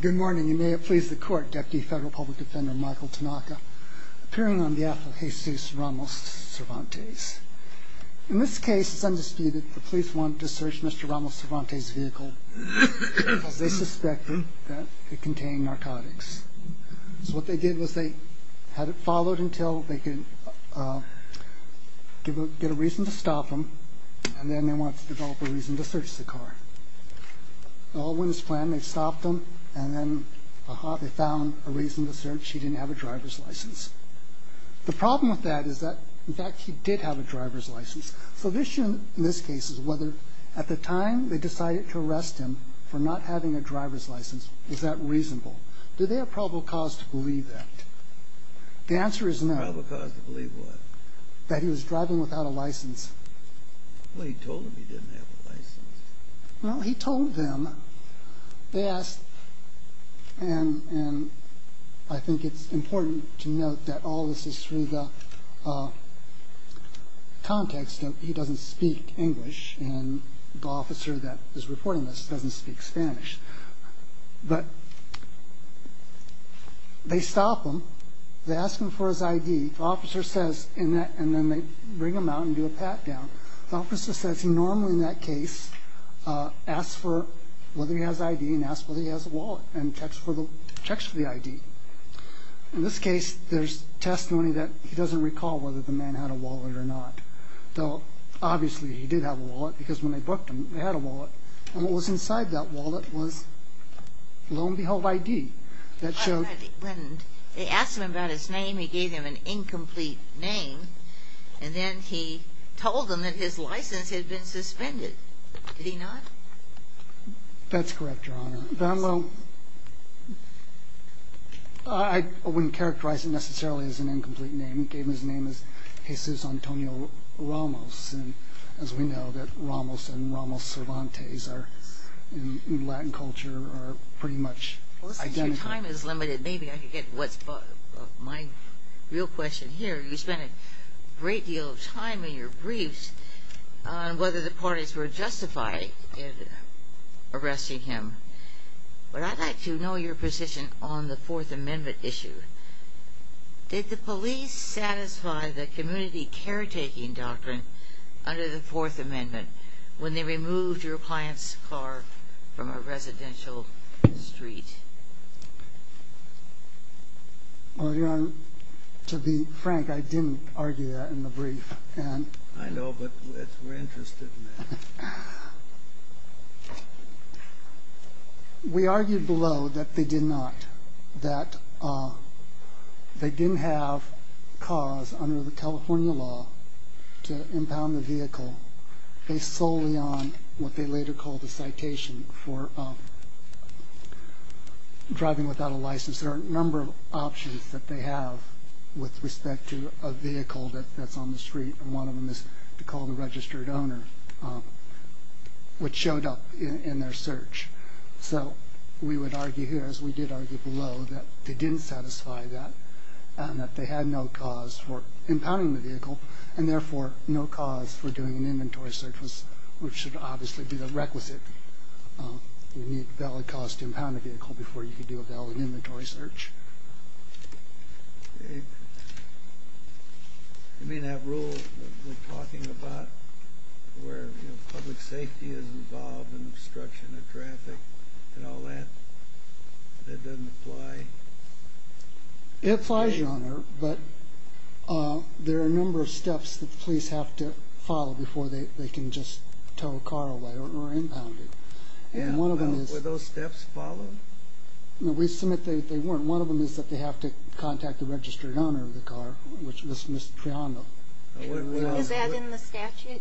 Good morning, and may it please the Court, Deputy Federal Public Defender Michael Tanaka, appearing on behalf of Jesus Ramos Cervantes. In this case, it's undisputed that the police wanted to search Mr. Ramos Cervantes' vehicle because they suspected that it contained narcotics. So what they did was they had it followed until they could get a reason to stop him, and then they wanted to develop a reason to search the car. It all went as planned. They stopped him, and then, aha, they found a reason to search. He didn't have a driver's license. The problem with that is that, in fact, he did have a driver's license. So the issue in this case is whether, at the time they decided to arrest him for not having a driver's license, was that reasonable? Did they have probable cause to believe that? The answer is no. Probably cause to believe what? That he was driving without a license. Well, he told them he didn't have a license. Well, he told them. They asked, and I think it's important to note that all this is through the context that he doesn't speak English, and the officer that is reporting this doesn't speak Spanish. But they stop him. They ask him for his ID. The officer says, and then they bring him out and do a pat-down. The officer says he normally, in that case, asks for whether he has ID and asks whether he has a wallet and checks for the ID. In this case, there's testimony that he doesn't recall whether the man had a wallet or not. Though, obviously, he did have a wallet, because when they booked him, he had a wallet. And what was inside that wallet was, lo and behold, ID. When they asked him about his name, he gave him an incomplete name. And then he told them that his license had been suspended. Did he not? That's correct, Your Honor. I wouldn't characterize it necessarily as an incomplete name. He gave him his name as Jesus Antonio Ramos. As we know, Ramos and Ramos Cervantes in Latin culture are pretty much identical. Your time is limited. Maybe I can get to my real question here. You spent a great deal of time in your briefs on whether the parties were justified in arresting him. But I'd like to know your position on the Fourth Amendment issue. Did the police satisfy the community caretaking doctrine under the Fourth Amendment when they removed your client's car from a residential street? Well, Your Honor, to be frank, I didn't argue that in the brief. I know, but we're interested in that. We argued below that they did not, that they didn't have cause under the California law to impound the vehicle based solely on what they later called a citation for driving without a license. There are a number of options that they have with respect to a vehicle that's on the street, and one of them is to call the registered owner, which showed up in their search. So we would argue here, as we did argue below, that they didn't satisfy that and that they had no cause for impounding the vehicle and therefore no cause for doing an inventory search, which should obviously be the requisite. You need valid cause to impound a vehicle before you can do a valid inventory search. Do you mean that rule that we're talking about where public safety is involved in obstruction of traffic and all that, that doesn't apply? It applies, Your Honor, but there are a number of steps that the police have to follow before they can just tow a car away or impound it. Were those steps followed? No, we submit that they weren't. One of them is that they have to contact the registered owner of the car, which was Ms. Triano. Is that in the statute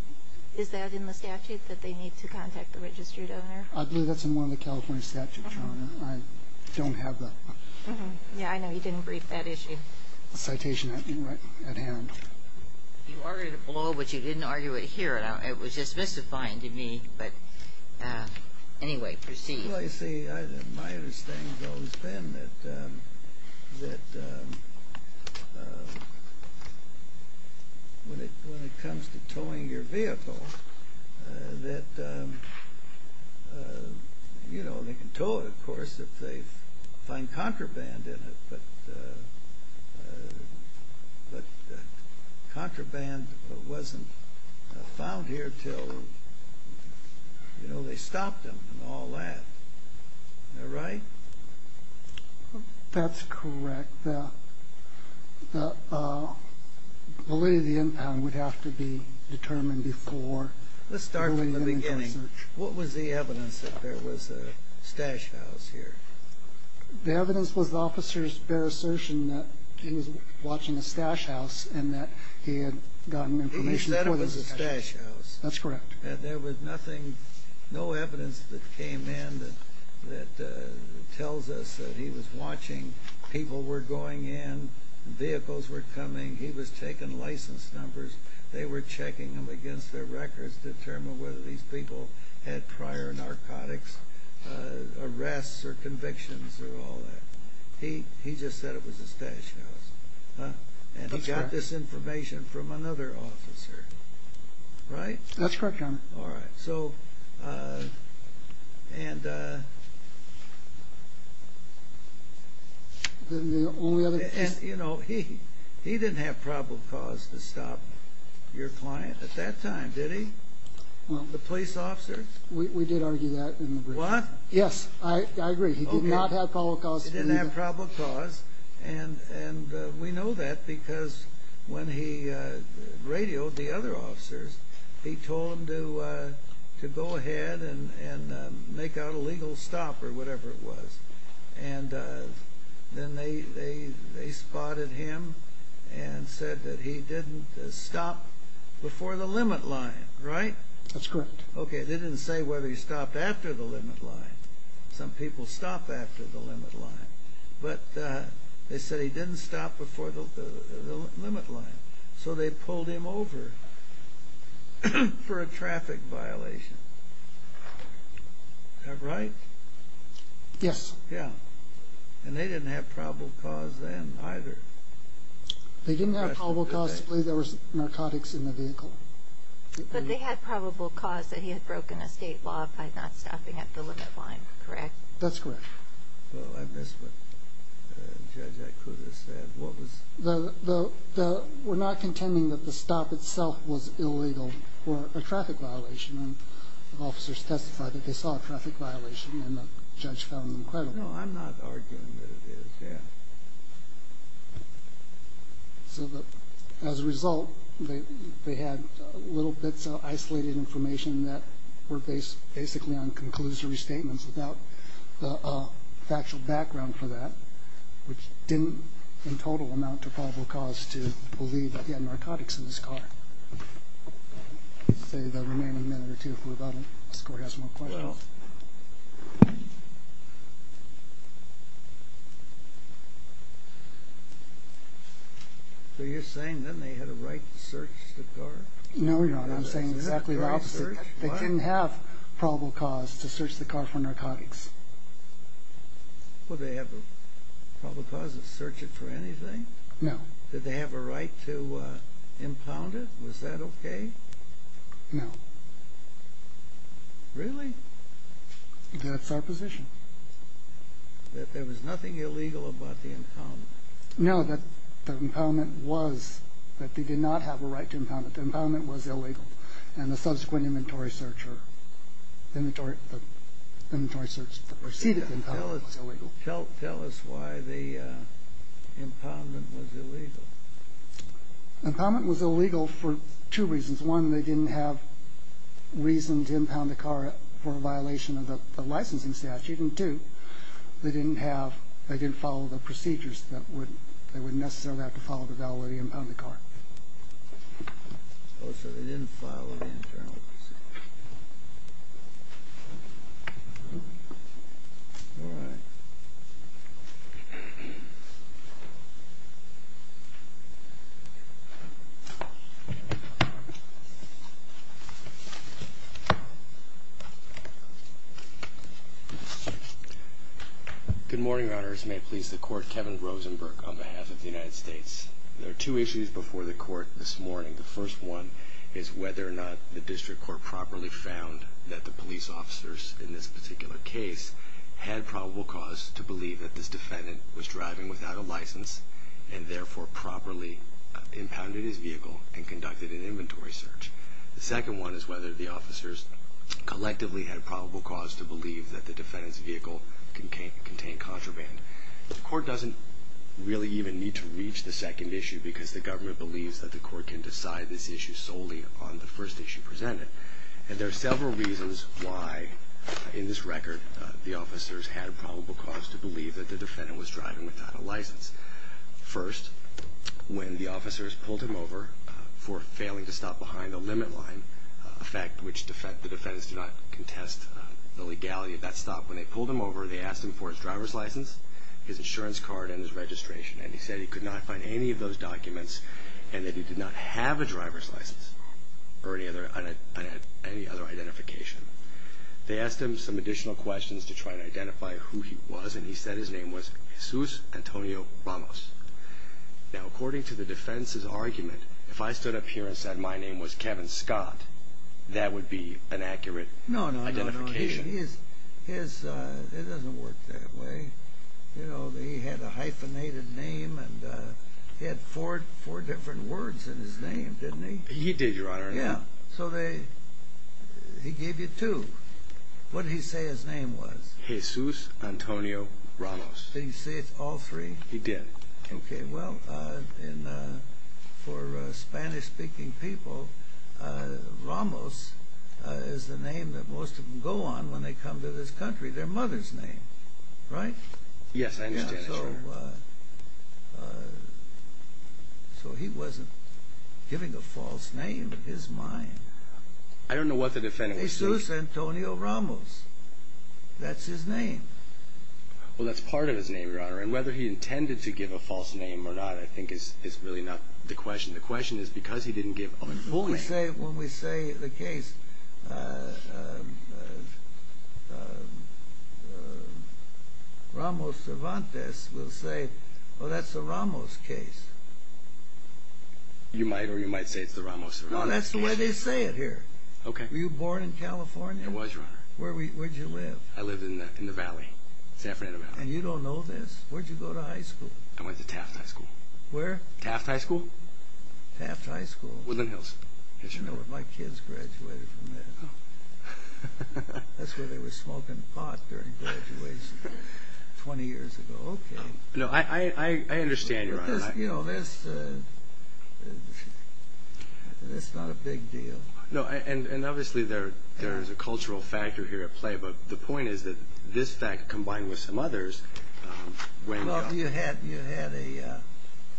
that they need to contact the registered owner? I believe that's in one of the California statutes, Your Honor. I don't have that one. Yeah, I know. You didn't brief that issue. Citation at hand. You argued it below, but you didn't argue it here. It was just mystifying to me, but anyway, proceed. Well, you see, my understanding has always been that when it comes to towing your vehicle, that, you know, they can tow it, of course, if they find contraband in it, but contraband wasn't found here until, you know, they stopped them and all that. Am I right? That's correct. The way the impound would have to be determined before. Let's start from the beginning. What was the evidence that there was a stash house here? The evidence was the officer's bare assertion that he was watching a stash house and that he had gotten information before there was a stash house. He said it was a stash house. That's correct. There was nothing, no evidence that came in that tells us that he was watching. People were going in, vehicles were coming. He was taking license numbers. They were checking them against their records, to determine whether these people had prior narcotics arrests or convictions or all that. He just said it was a stash house. That's correct. And he got this information from another officer. Right? That's correct, Your Honor. All right. And he didn't have probable cause to stop your client at that time, did he? The police officer? We did argue that. What? Yes, I agree. He did not have probable cause. He didn't have probable cause. And we know that because when he radioed the other officers, he told them to go ahead and make out a legal stop or whatever it was. And then they spotted him and said that he didn't stop before the limit line, right? That's correct. Okay, they didn't say whether he stopped after the limit line. Some people stop after the limit line. But they said he didn't stop before the limit line. So they pulled him over for a traffic violation. Is that right? Yes. Yeah. And they didn't have probable cause then either. They didn't have probable cause to believe there was narcotics in the vehicle. But they had probable cause that he had broken a state law by not stopping at the limit line, correct? That's correct. Well, I missed what Judge Iacutis said. What was it? We're not contending that the stop itself was illegal or a traffic violation. The officers testified that they saw a traffic violation, and the judge found them credible. No, I'm not arguing that it is, yeah. So as a result, they had little bits of isolated information that were based basically on conclusory statements without a factual background for that, which didn't in total amount to probable cause to believe that he had narcotics in his car. I'd say the remaining minute or two, if we're done, the court has more questions. So you're saying then they had a right to search the car? No, you're not. I'm saying exactly the opposite. They didn't have probable cause to search the car for narcotics. Well, did they have a probable cause to search it for anything? No. Did they have a right to impound it? Was that okay? No. Really? That's our position. That there was nothing illegal about the impound? No, that the impoundment was, that they did not have a right to impound it. The impoundment was illegal. And the subsequent inventory search or the inventory search, the preceded impoundment was illegal. Tell us why the impoundment was illegal. The impoundment was illegal for two reasons. One, they didn't have reason to impound the car for a violation of the licensing statute. And two, they didn't have, they didn't follow the procedures that would, they wouldn't necessarily have to follow the validity of the impoundment card. Oh, so they didn't follow the internal procedures. All right. Good morning, Your Honors. May it please the Court, Kevin Rosenberg on behalf of the United States. There are two issues before the Court this morning. The first one is whether or not the district court properly found that the police officers in this particular case had probable cause to believe that this defendant was driving without a license and therefore properly impounded his vehicle and conducted an inventory search. The second one is whether the officers collectively had probable cause to believe that the defendant's vehicle contained contraband. The Court doesn't really even need to reach the second issue because the government believes that the Court can decide this issue solely on the first issue presented. And there are several reasons why, in this record, the officers had probable cause to believe that the defendant was driving without a license. First, when the officers pulled him over for failing to stop behind the limit line, a fact which the defendants do not contest the legality of that stop, when they pulled him over, they asked him for his driver's license, his insurance card, and his registration. And he said he could not find any of those documents and that he did not have a driver's license or any other identification. They asked him some additional questions to try and identify who he was and he said his name was Jesus Antonio Ramos. Now, according to the defendants' argument, if I stood up here and said my name was Kevin Scott, that would be an accurate identification. No, no, no. It doesn't work that way. You know, he had a hyphenated name and he had four different words in his name, didn't he? He did, Your Honor. Yeah, so he gave you two. What did he say his name was? Jesus Antonio Ramos. Did he say it all three? He did. Okay, well, for Spanish-speaking people, Ramos is the name that most of them go on when they come to this country. Their mother's name, right? Yes, I know. So he wasn't giving a false name in his mind. I don't know what the defendant was saying. Jesus Antonio Ramos. That's his name. Well, that's part of his name, Your Honor, and whether he intended to give a false name or not I think is really not the question. The question is because he didn't give a full name. When we say the case, Ramos Cervantes will say, well, that's the Ramos case. You might or you might say it's the Ramos Cervantes case. No, that's the way they say it here. Okay. Were you born in California? I was, Your Honor. Where'd you live? I lived in the valley, San Fernando Valley. And you don't know this? Where'd you go to high school? I went to Taft High School. Where? Taft High School. Taft High School? Woodland Hills. My kids graduated from there. That's where they were smoking pot during graduation 20 years ago. Okay. No, I understand, Your Honor. You know, this is not a big deal. No, and obviously there is a cultural factor here at play, but the point is that this fact combined with some others went up. Well, you had a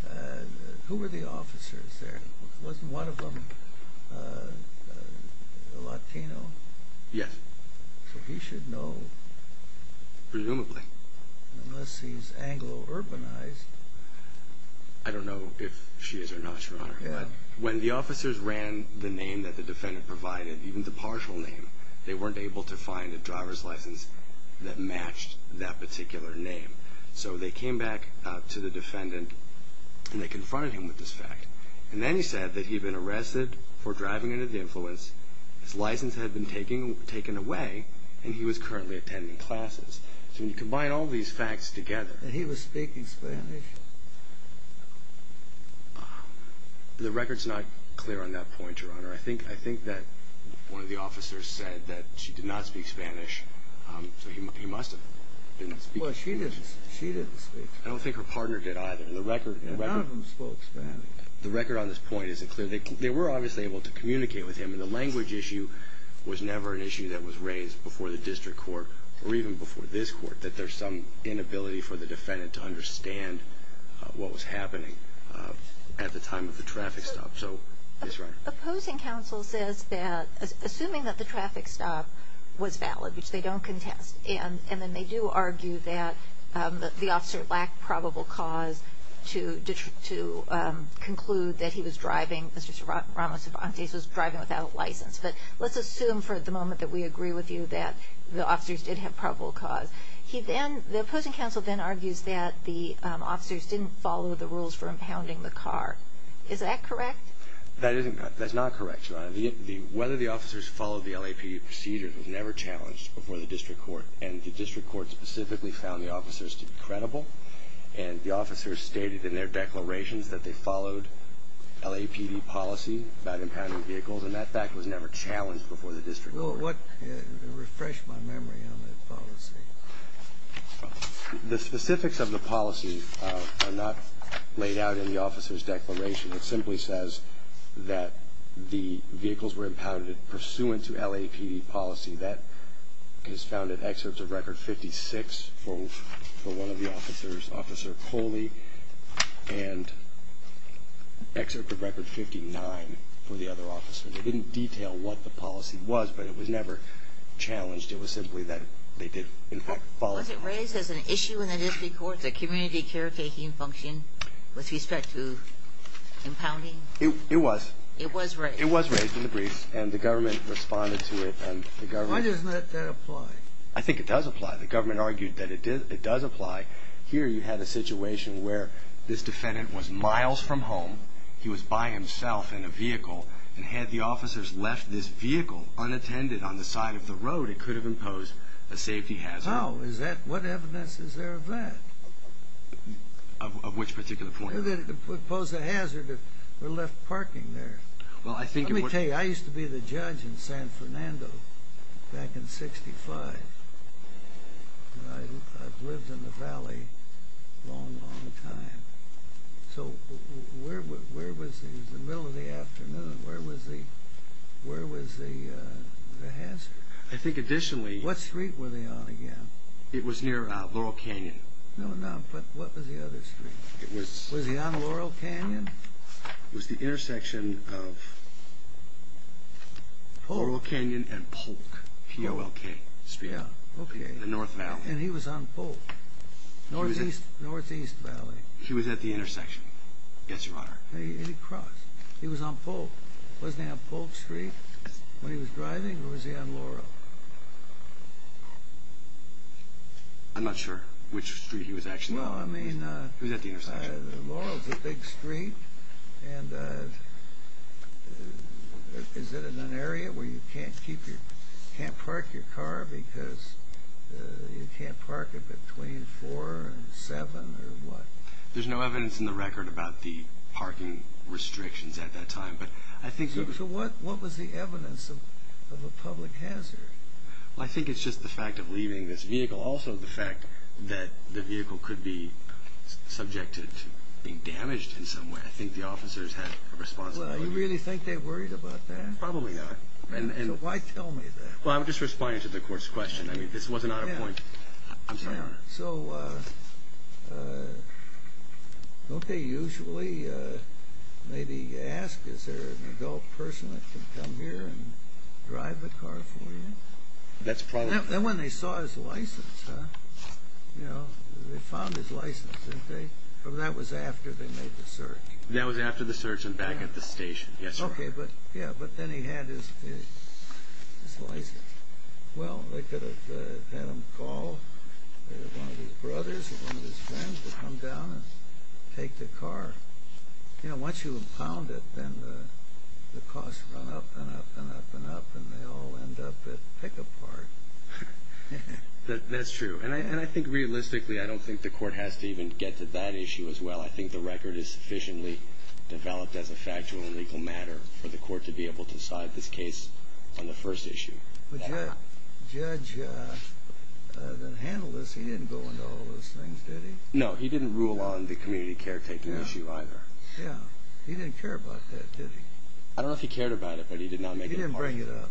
– who were the officers there? Wasn't one of them a Latino? Yes. So he should know. Presumably. Unless he's Anglo-urbanized. I don't know if she is or not, Your Honor. Yeah. When the officers ran the name that the defendant provided, even the partial name, they weren't able to find a driver's license that matched that particular name. So they came back to the defendant, and they confronted him with this fact. And then he said that he'd been arrested for driving under the influence, his license had been taken away, and he was currently attending classes. So when you combine all these facts together. And he was speaking Spanish. The record's not clear on that point, Your Honor. I think that one of the officers said that she did not speak Spanish, so he must have been speaking Spanish. Well, she didn't speak Spanish. I don't think her partner did either. None of them spoke Spanish. The record on this point isn't clear. They were obviously able to communicate with him, and the language issue was never an issue that was raised before the district court or even before this court, that there's some inability for the defendant to understand what was happening at the time of the traffic stop. So, yes, Your Honor. Opposing counsel says that, assuming that the traffic stop was valid, which they don't contest, and then they do argue that the officer lacked probable cause to conclude that he was driving, that Mr. Ramos-Vantez was driving without a license. But let's assume for the moment that we agree with you that the officers did have probable cause. The opposing counsel then argues that the officers didn't follow the rules for impounding the car. Is that correct? That's not correct, Your Honor. Whether the officers followed the LAPD procedure was never challenged before the district court, and the district court specifically found the officers to be credible, and the officers stated in their declarations that they followed LAPD policy about impounding vehicles, and that fact was never challenged before the district court. Refresh my memory on that policy. The specifics of the policy are not laid out in the officer's declaration. It simply says that the vehicles were impounded pursuant to LAPD policy. That is found in excerpts of Record 56 for one of the officers, Officer Coley, and excerpt of Record 59 for the other officer. They didn't detail what the policy was, but it was never challenged. It was simply that they did, in fact, follow it. Was it raised as an issue in the district court, the community caretaking function with respect to impounding? It was. It was raised. It was raised in the brief, and the government responded to it, and the government... Why doesn't that apply? I think it does apply. The government argued that it does apply. Here you had a situation where this defendant was miles from home. He was by himself in a vehicle, and had the officers left this vehicle unattended on the side of the road, it could have imposed a safety hazard. How is that? What evidence is there of that? Of which particular point? That it would pose a hazard if we left parking there. Let me tell you, I used to be the judge in San Fernando back in 1965, and I've lived in the valley a long, long time. So where was he? It was the middle of the afternoon. Where was the hazard? I think additionally... What street were they on again? It was near Laurel Canyon. No, no, but what was the other street? Was he on Laurel Canyon? It was the intersection of Laurel Canyon and Polk, P-O-L-K Street. Yeah, okay. In the North Valley. And he was on Polk. Northeast Valley. He was at the intersection. Yes, Your Honor. And he crossed. He was on Polk. Wasn't he on Polk Street when he was driving, or was he on Laurel? Well, I mean... He was at the intersection. Laurel's a big street, and is it in an area where you can't park your car because you can't park it between 4 and 7 or what? There's no evidence in the record about the parking restrictions at that time, but I think... So what was the evidence of a public hazard? Well, I think it's just the fact of leaving this vehicle. Also the fact that the vehicle could be subjected to being damaged in some way. I think the officers had a responsibility. Well, do you really think they worried about that? Probably not. So why tell me that? Well, I'm just responding to the court's question. I mean, this wasn't out of point. I'm sorry, Your Honor. So don't they usually maybe ask, is there an adult person that can come here and drive the car for you? That's probably... And when they saw his license, they found his license, didn't they? That was after they made the search. That was after the search and back at the station. Yes, Your Honor. Okay, but then he had his license. Well, they could have had him call one of his brothers or one of his friends to come down and take the car. Once you impound it, then the costs run up and up and up and up, and you'll end up at Pickup Park. That's true. And I think realistically, I don't think the court has to even get to that issue as well. I think the record is sufficiently developed as a factual and legal matter for the court to be able to decide this case on the first issue. The judge that handled this, he didn't go into all those things, did he? No, he didn't rule on the community caretaking issue either. Yeah, he didn't care about that, did he? Did he bring it up?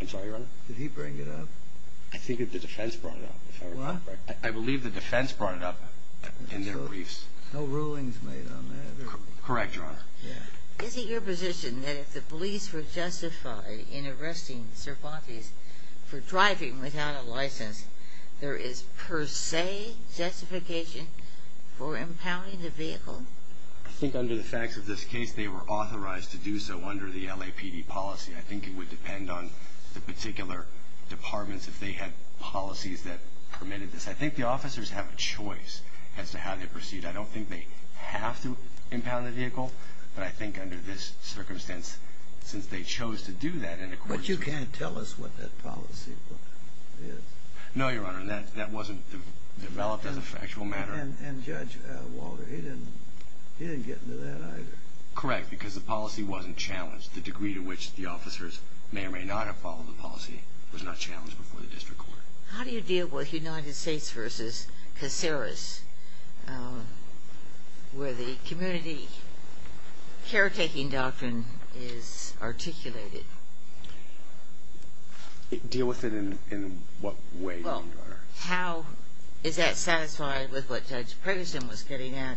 I'm sorry, Your Honor? Did he bring it up? I think that the defense brought it up. I believe the defense brought it up in their briefs. No rulings made on that. Correct, Your Honor. Is it your position that if the police were justified in arresting Cervantes for driving without a license, there is per se justification for impounding the vehicle? I think under the facts of this case, they were authorized to do so under the LAPD policy. I think it would depend on the particular departments if they had policies that permitted this. I think the officers have a choice as to how they proceed. I don't think they have to impound the vehicle, but I think under this circumstance, since they chose to do that, and of course we... But you can't tell us what that policy is. No, Your Honor, that wasn't developed as a factual matter. And Judge Walter, he didn't get into that either. Correct, because the policy wasn't challenged. The degree to which the officers may or may not have followed the policy was not challenged before the district court. How do you deal with United States v. Caceres, where the community caretaking doctrine is articulated? Deal with it in what way, Your Honor? How is that satisfied with what Judge Preggerson was getting at,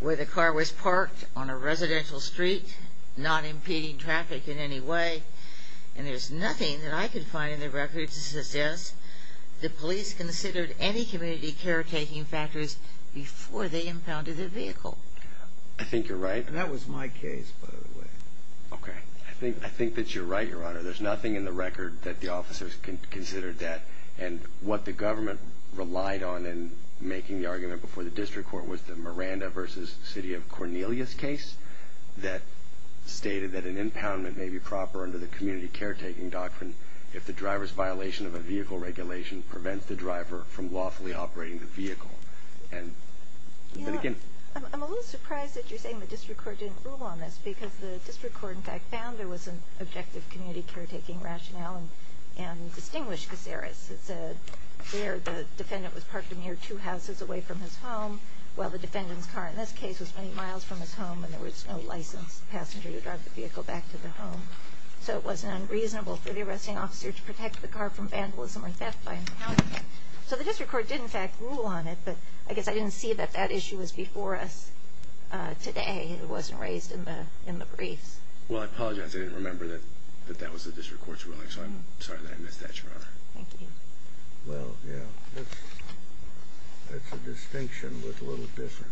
where the car was parked on a residential street, not impeding traffic in any way, and there's nothing that I could find in the record to suggest the police considered any community caretaking factors before they impounded the vehicle? I think you're right. And that was my case, by the way. Okay. I think that you're right, Your Honor. There's nothing in the record that the officers considered that. And what the government relied on in making the argument before the district court was the Miranda v. City of Cornelius case that stated that an impoundment may be proper under the community caretaking doctrine if the driver's violation of a vehicle regulation prevents the driver from lawfully operating the vehicle. I'm a little surprised that you're saying the district court didn't rule on this because the district court, in fact, found there was an objective community caretaking rationale and distinguished Caceres. It said there the defendant was parked a mere two houses away from his home, while the defendant's car in this case was many miles from his home and there was no licensed passenger to drive the vehicle back to the home. So it wasn't unreasonable for the arresting officer to protect the car from vandalism or theft by impounding it. So the district court did, in fact, rule on it, but I guess I didn't see that that issue was before us today. It wasn't raised in the briefs. Well, I apologize. I didn't remember that that was the district court's ruling, so I'm sorry that I missed that, Your Honor. Thank you. Well, yeah, that's a distinction with little difference.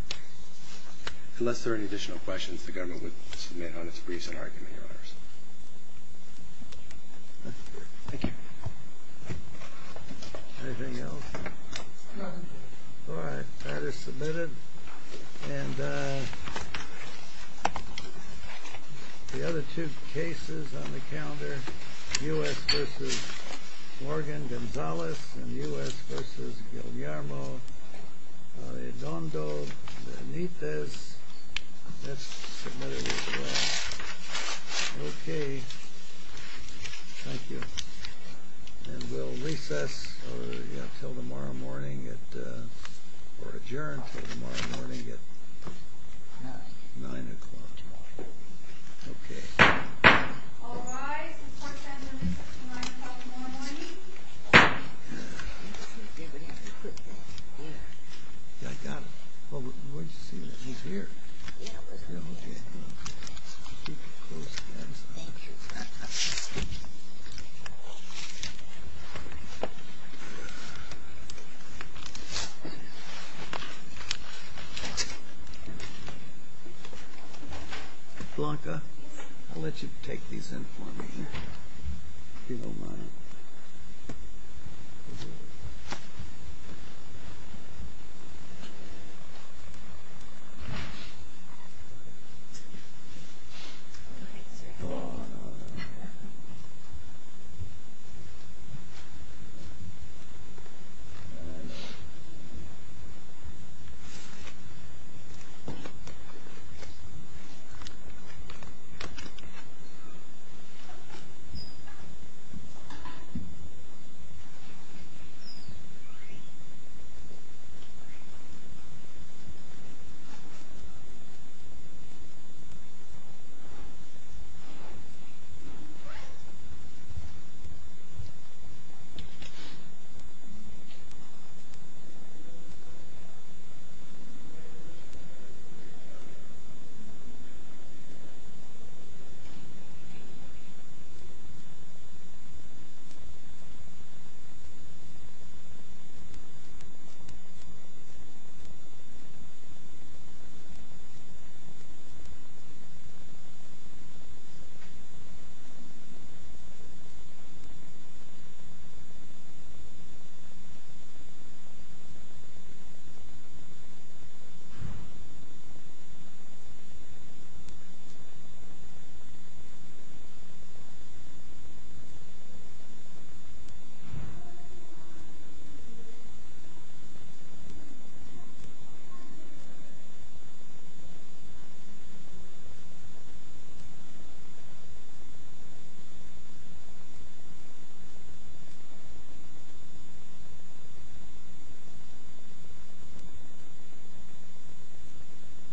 Unless there are any additional questions, the government would submit on its briefs and argument, Your Honors. Thank you. Anything else? None. All right. That is submitted. And the other two cases on the calendar, U.S. v. Morgan Gonzales and U.S. v. Guillermo Arredondo Benitez, that's submitted as well. Okay. Thank you. And we'll recess until tomorrow morning or adjourn until tomorrow morning at 9 o'clock. Okay. All rise and participate in the recess until 9 o'clock tomorrow morning. I got it. Where did you see that? Yeah, it was here. Okay. Keep your closed hands off your back. Blanca, I'll let you take these in for me here. If you don't mind. All right, sir.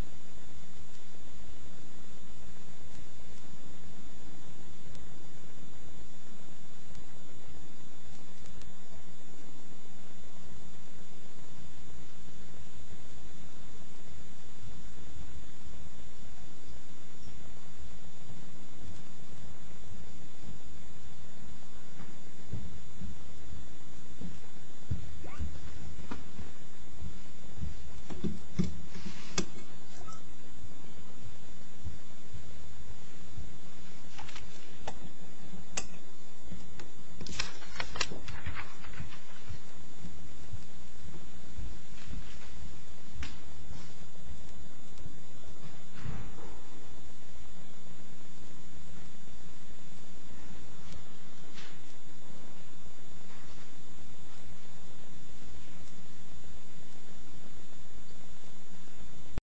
Thank you. Thank you. Thank you. Thank you. Thank you.